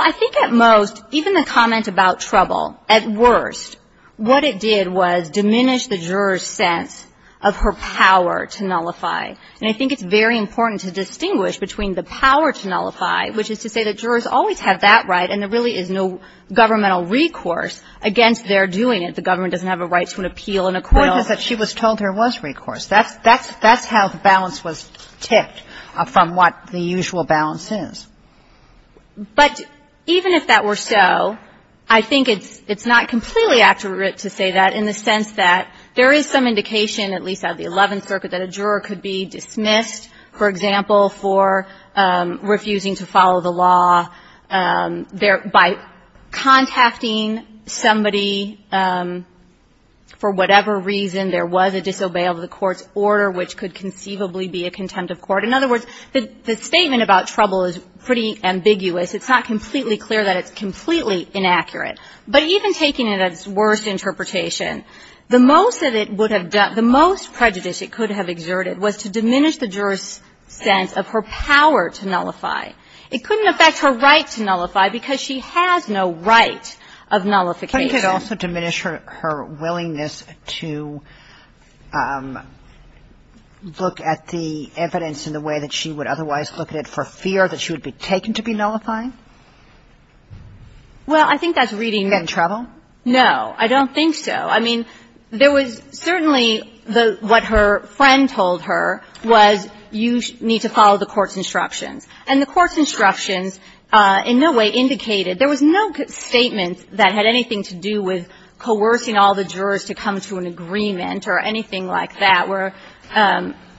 I think at most, even the comment about trouble, at worst, what it did was diminish the juror's sense of her power to nullify. And I think it's very important to distinguish between the power to nullify, which is to say that jurors always have that right and there really is no governmental recourse against their doing it. The government doesn't have a right to an appeal in a court. But it's just that she was told there was recourse. That's how the balance was tipped from what the usual balance is. But even if that were so, I think it's not completely accurate to say that in the sense that there is some indication, at least out of the Eleventh Circuit, that a juror could be dismissed, for example, for refusing to follow the law by contacting somebody for whatever reason there was a disobey of the court's order, which could conceivably be a contempt of court. In other words, the statement about trouble is pretty ambiguous. It's not completely clear that it's completely inaccurate. But even taking it as worst interpretation, the most that it would have done, the most prejudice it could have exerted was to diminish the juror's sense of her power to nullify. It couldn't affect her right to nullify because she has no right of nullification. Kagan. Kagan. Couldn't it also diminish her willingness to look at the evidence in the way that she would otherwise look at it for fear that she would be taken to be nullifying? Well, I think that's reading the trouble. Getting in trouble? No. I don't think so. I mean, there was certainly the what her friend told her was you need to follow the court's instructions. And the court's instructions in no way indicated, there was no statement that had anything to do with coercing all the jurors to come to an agreement or anything like that where,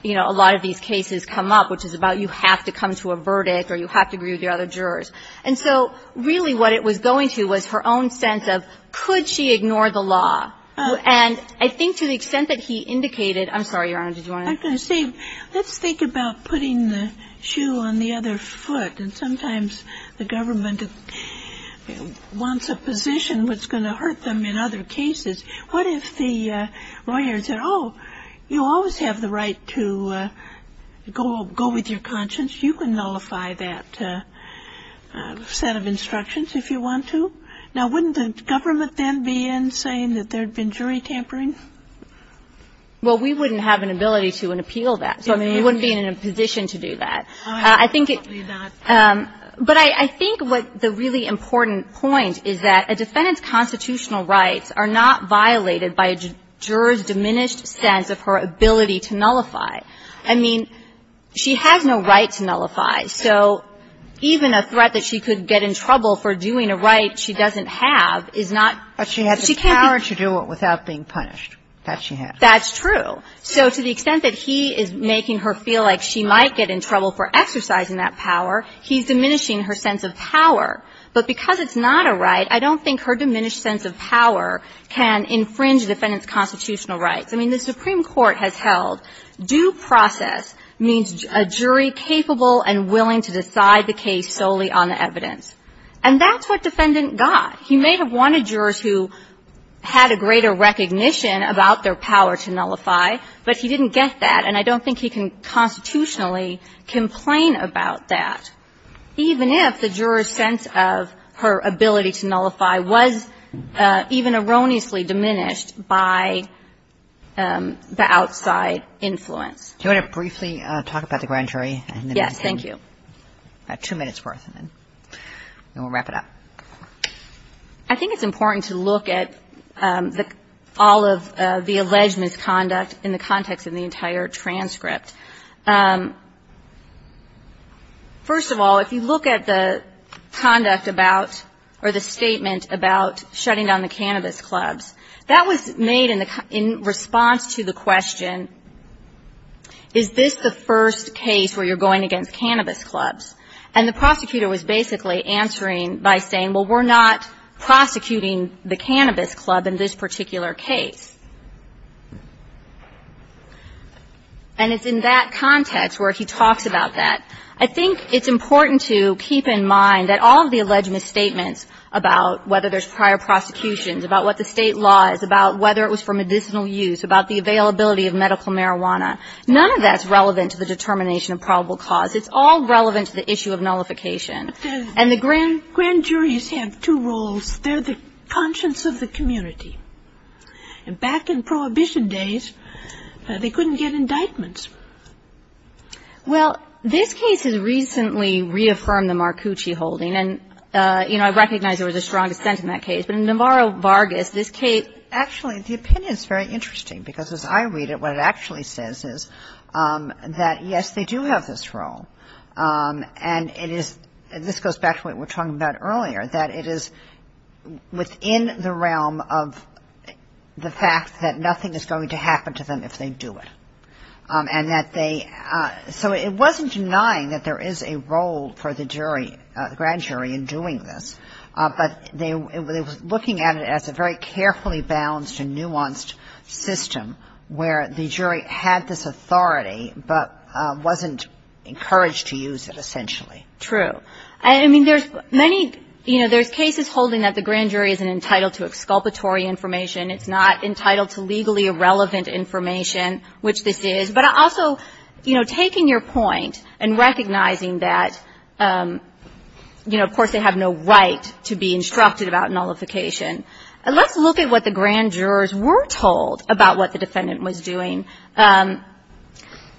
you know, a lot of these cases come up, which is about you have to come to a verdict or you have to agree with the other jurors. And so really what it was going to was her own sense of could she ignore the law. And I think to the extent that he indicated, I'm sorry, Your Honor, did you want to? I'm going to say, let's think about putting the shoe on the other foot. And sometimes the government wants a position that's going to hurt them in other cases. What if the lawyer said, oh, you always have the right to go with your conscience and you can nullify that set of instructions if you want to? Now, wouldn't the government then be in saying that there had been jury tampering? Well, we wouldn't have an ability to and appeal that. So we wouldn't be in a position to do that. I think it's not. But I think what the really important point is that a defendant's constitutional rights are not violated by a juror's diminished sense of her ability to nullify. I mean, she has no right to nullify. So even a threat that she could get in trouble for doing a right she doesn't have is not the same. But she has the power to do it without being punished. That she has. That's true. So to the extent that he is making her feel like she might get in trouble for exercising that power, he's diminishing her sense of power. But because it's not a right, I don't think her diminished sense of power can infringe a defendant's constitutional rights. I mean, the Supreme Court has held due process means a jury capable and willing to decide the case solely on the evidence. And that's what defendant got. He may have wanted jurors who had a greater recognition about their power to nullify, but he didn't get that, and I don't think he can constitutionally complain about that, even if the juror's sense of her ability to nullify was even erroneously diminished by the outside influence. Do you want to briefly talk about the grand jury? Yes. Thank you. About two minutes' worth, and then we'll wrap it up. I think it's important to look at all of the alleged misconduct in the context of the entire transcript. First of all, if you look at the conduct about or the statement about shutting down the cannabis clubs, that was made in response to the question, is this the first case where you're going against cannabis clubs? And the prosecutor was basically answering by saying, well, we're not prosecuting the cannabis club in this particular case. And it's in that context where he talks about that. I think it's important to keep in mind that all of the alleged misstatements about whether there's prior prosecutions, about what the State law is, about whether it was for medicinal use, about the availability of medical marijuana, none of that's relevant to the determination of probable cause. It's all relevant to the issue of nullification. And the grand juries have two roles. They're the conscience of the community. And back in Prohibition days, they couldn't get indictments. Well, this case has recently reaffirmed the Marcucci holding. And, you know, I recognize there was a strong dissent in that case. But in Navarro-Vargas, this case — Actually, the opinion is very interesting, because as I read it, what it actually says is that, yes, they do have this role. And it is — this goes back to what we were talking about earlier, that it is within the realm of the fact that nothing is going to happen to them if they do it. And that they — so it wasn't denying that there is a role for the jury, the grand jury, in doing this. But they were looking at it as a very carefully balanced and nuanced system, where the jury had this authority, but wasn't encouraged to use it, essentially. True. I mean, there's many — you know, there's cases holding that the grand jury isn't entitled to exculpatory information. It's not entitled to legally irrelevant information, which this is. But also, you know, taking your point and recognizing that, you know, of course they have no right to be instructed about nullification. Let's look at what the grand jurors were told about what the defendant was doing.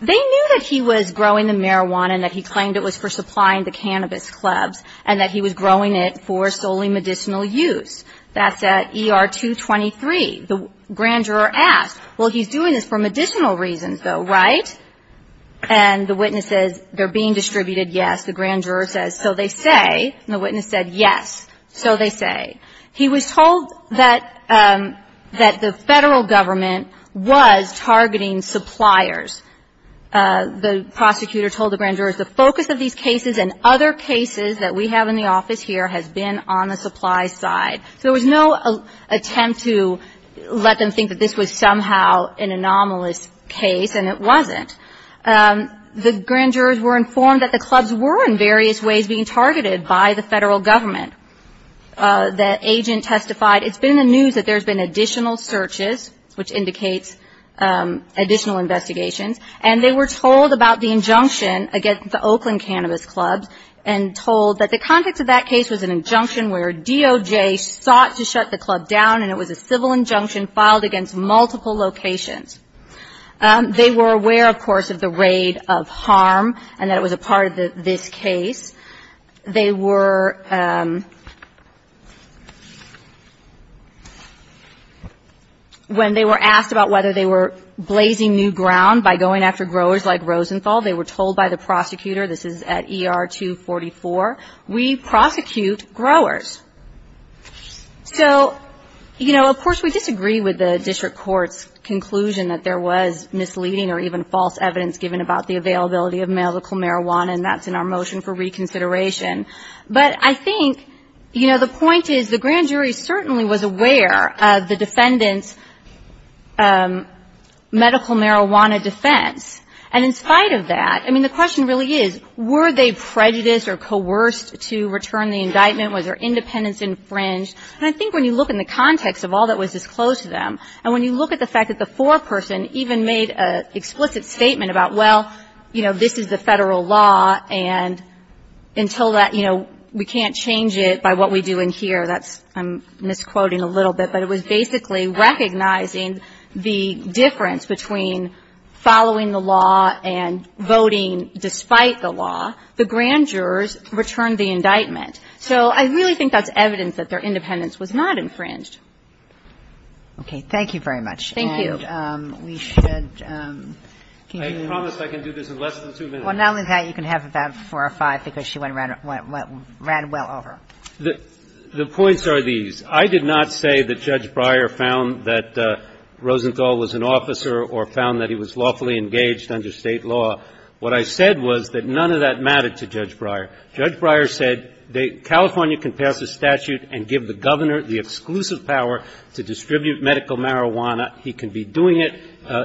They knew that he was growing the marijuana and that he claimed it was for supplying the cannabis clubs, and that he was growing it for solely medicinal use. That's at ER 223. The grand juror asked, well, he's doing this for medicinal reasons, though, right? And the witness says, they're being distributed, yes. The grand juror says, so they say. And the witness said, yes, so they say. He was told that the Federal Government was targeting suppliers. The prosecutor told the grand jurors, the focus of these cases and other cases that we have in the office here has been on the supply side. So there was no attempt to let them think that this was somehow an anomalous case, and it wasn't. The grand jurors were informed that the clubs were in various ways being targeted by the Federal Government. The agent testified, it's been in the news that there's been additional searches, which indicates additional investigations. And they were told about the injunction against the Oakland Cannabis Clubs and told that the context of that case was an injunction where DOJ sought to shut the club down, and it was a civil injunction filed against multiple locations. They were aware, of course, of the raid of harm and that it was a part of this case. They were, when they were asked about whether they were blazing new ground by going after growers like Rosenthal, they were told by the prosecutor, this is at ER 244, we prosecute growers. So, you know, of course we disagree with the district court's conclusion that there was misleading or even false evidence given about the availability of medical marijuana, and that's in our motion for reconsideration. But I think, you know, the point is the grand jury certainly was aware of the defendant's defense, and in spite of that, I mean, the question really is, were they prejudiced or coerced to return the indictment? Was their independence infringed? And I think when you look in the context of all that was disclosed to them, and when you look at the fact that the foreperson even made an explicit statement about, well, you know, this is the Federal law, and until that, you know, we can't change it by what we do in here. That's, I'm misquoting a little bit. But it was basically recognizing the difference between following the law and voting despite the law. The grand jurors returned the indictment. So I really think that's evidence that their independence was not infringed. Okay. Thank you very much. Thank you. And we should continue. I promise I can do this in less than two minutes. Well, not only that, you can have about four or five, because she ran well over. The points are these. I did not say that Judge Breyer found that Rosenthal was an officer or found that he was lawfully engaged under State law. What I said was that none of that mattered to Judge Breyer. Judge Breyer said California can pass a statute and give the Governor the exclusive power to distribute medical marijuana. He can be doing it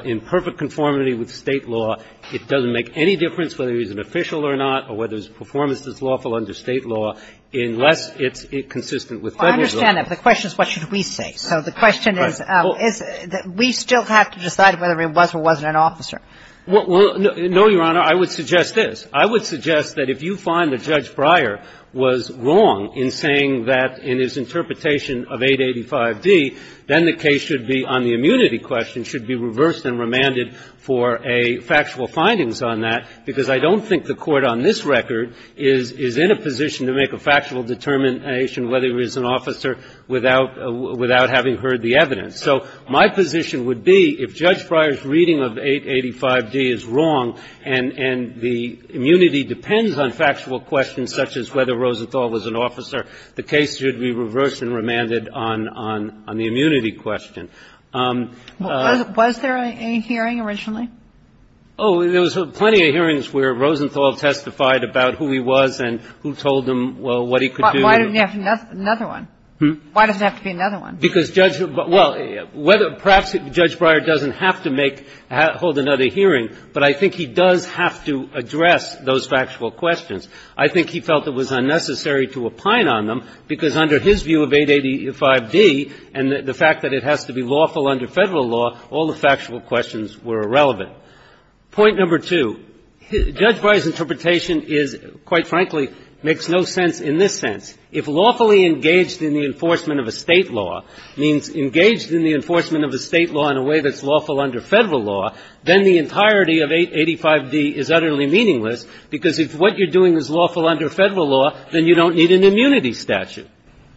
in perfect conformity with State law. It doesn't make any difference whether he's an official or not or whether his performance is lawful under State law unless it's consistent with Federal law. I understand that. But the question is what should we say. So the question is that we still have to decide whether he was or wasn't an officer. Well, no, Your Honor. I would suggest this. I would suggest that if you find that Judge Breyer was wrong in saying that in his interpretation of 885d, then the case should be on the immunity question, should be reversed and remanded for a factual findings on that, because I don't think the Court on this record is in a position to make a factual determination whether or not he was an officer without having heard the evidence. So my position would be if Judge Breyer's reading of 885d is wrong and the immunity depends on factual questions such as whether Rosenthal was an officer, the case should be reversed and remanded on the immunity question. Was there a hearing originally? Oh, there was plenty of hearings where Rosenthal testified about who he was and who he wasn't. But there was another one. Why does it have to be another one? Because Judge — well, perhaps Judge Breyer doesn't have to make — hold another hearing, but I think he does have to address those factual questions. I think he felt it was unnecessary to opine on them, because under his view of 885d and the fact that it has to be lawful under Federal law, all the factual questions were irrelevant. Point number two, Judge Breyer's interpretation is, quite frankly, makes no sense in this sense. If lawfully engaged in the enforcement of a State law means engaged in the enforcement of a State law in a way that's lawful under Federal law, then the entirety of 885d is utterly meaningless, because if what you're doing is lawful under Federal law, then you don't need an immunity statute.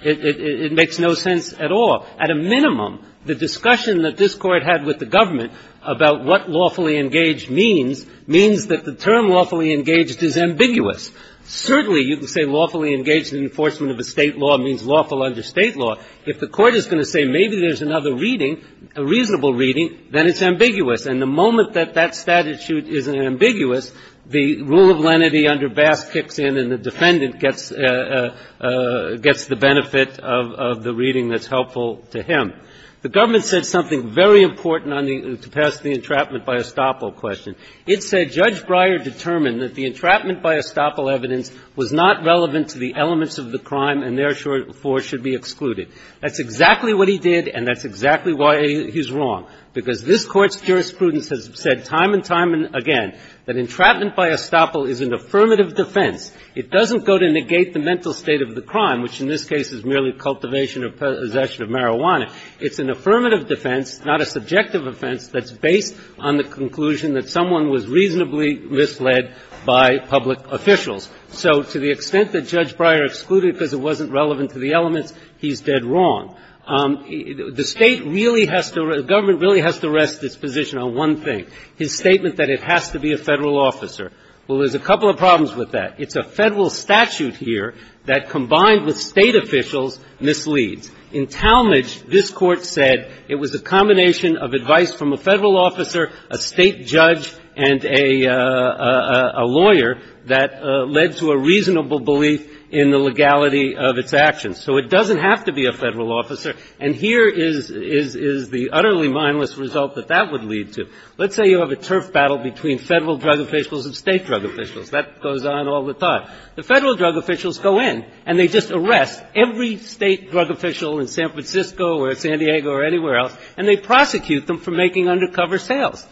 It makes no sense at all. At a minimum, the discussion that this Court had with the government about what lawfully engaged means, means that the term lawfully engaged is ambiguous. Certainly, you can say lawfully engaged in the enforcement of a State law means lawful under State law. If the Court is going to say maybe there's another reading, a reasonable reading, then it's ambiguous. And the moment that that statute is ambiguous, the rule of lenity under Bass kicks in and the defendant gets the benefit of the reading that's helpful to him. The government said something very important on the — to pass the entrapment by estoppel question. It said Judge Breyer determined that the entrapment by estoppel evidence was not relevant to the elements of the crime and therefore should be excluded. That's exactly what he did and that's exactly why he's wrong, because this Court's jurisprudence has said time and time again that entrapment by estoppel is an affirmative defense. It doesn't go to negate the mental state of the crime, which in this case is merely cultivation or possession of marijuana. It's an affirmative defense, not a subjective offense, that's based on the conclusion that someone was reasonably misled by public officials. So to the extent that Judge Breyer excluded because it wasn't relevant to the elements, he's dead wrong. The State really has to — the government really has to rest its position on one thing, his statement that it has to be a Federal officer. Well, there's a couple of problems with that. It's a Federal statute here that, combined with State officials, misleads. In Talmadge, this Court said it was a combination of advice from a Federal officer, a State judge, and a lawyer that led to a reasonable belief in the legality of its actions. So it doesn't have to be a Federal officer, and here is the utterly mindless result that that would lead to. Let's say you have a turf battle between Federal drug officials and State drug officials. That goes on all the time. The Federal drug officials go in and they just arrest every State drug official in San Francisco or San Diego or anywhere else, and they prosecute them for making undercover sales.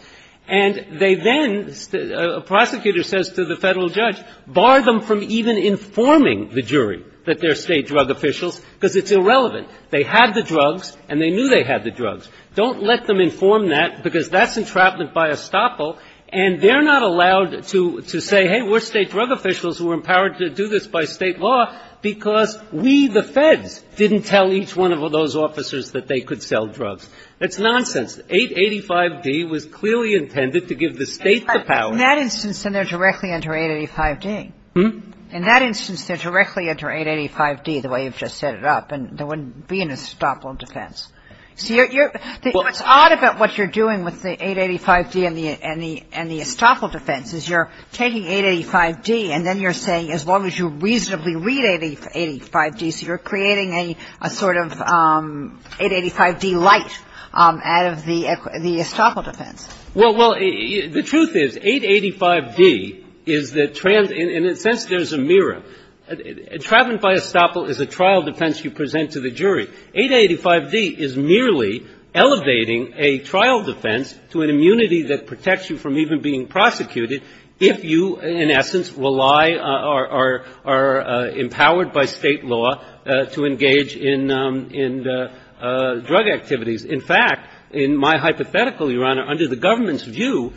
And they then — a prosecutor says to the Federal judge, bar them from even informing the jury that they're State drug officials because it's irrelevant. They had the drugs and they knew they had the drugs. Don't let them inform that because that's entrapment by estoppel, and they're not allowed to say, hey, we're State drug officials who were empowered to do this by State law because we, the Feds, didn't tell each one of those officers that they could sell drugs. That's nonsense. 885d was clearly intended to give the State the power. Kagan. In that instance, then they're directly under 885d. Hmm? In that instance, they're directly under 885d the way you've just set it up, and there wouldn't be an estoppel defense. So you're — what's odd about what you're doing with the 885d and the estoppel defense is you're taking 885d and then you're saying as long as you reasonably read 885d, so you're creating a sort of 885d light out of the estoppel defense. Well, the truth is, 885d is the — in a sense, there's a mirror. Entrapment by estoppel is a trial defense you present to the jury. 885d is merely elevating a trial defense to an immunity that protects you from even being prosecuted if you, in essence, rely or are empowered by State law to engage in drug activities. In fact, in my hypothetical, Your Honor, under the government's view,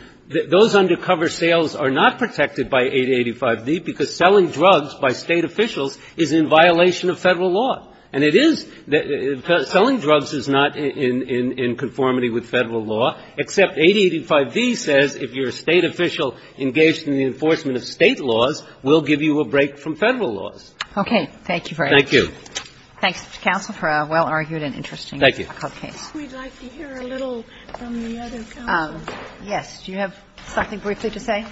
those undercover sales are not protected by 885d because selling drugs by State officials is in violation of Federal law. And it is — selling drugs is not in conformity with Federal law, except 885d says if you're a State official engaged in the enforcement of State laws, we'll give you a break from Federal laws. Okay. Thank you very much. Thank you. Thanks, counsel, for a well-argued and interesting case. Thank you. We'd like to hear a little from the other counselors. Yes. Do you have something briefly to say?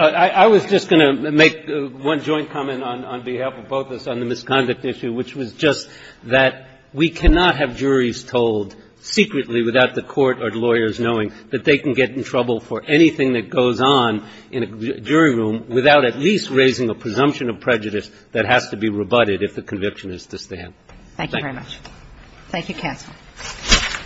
I was just going to make one joint comment on behalf of both of us on the misconduct issue, which was just that we cannot have juries told secretly without the court or lawyers knowing that they can get in trouble for anything that goes on in a jury room without at least raising a presumption of prejudice that has to be rebutted if the conviction is to stand. Thank you.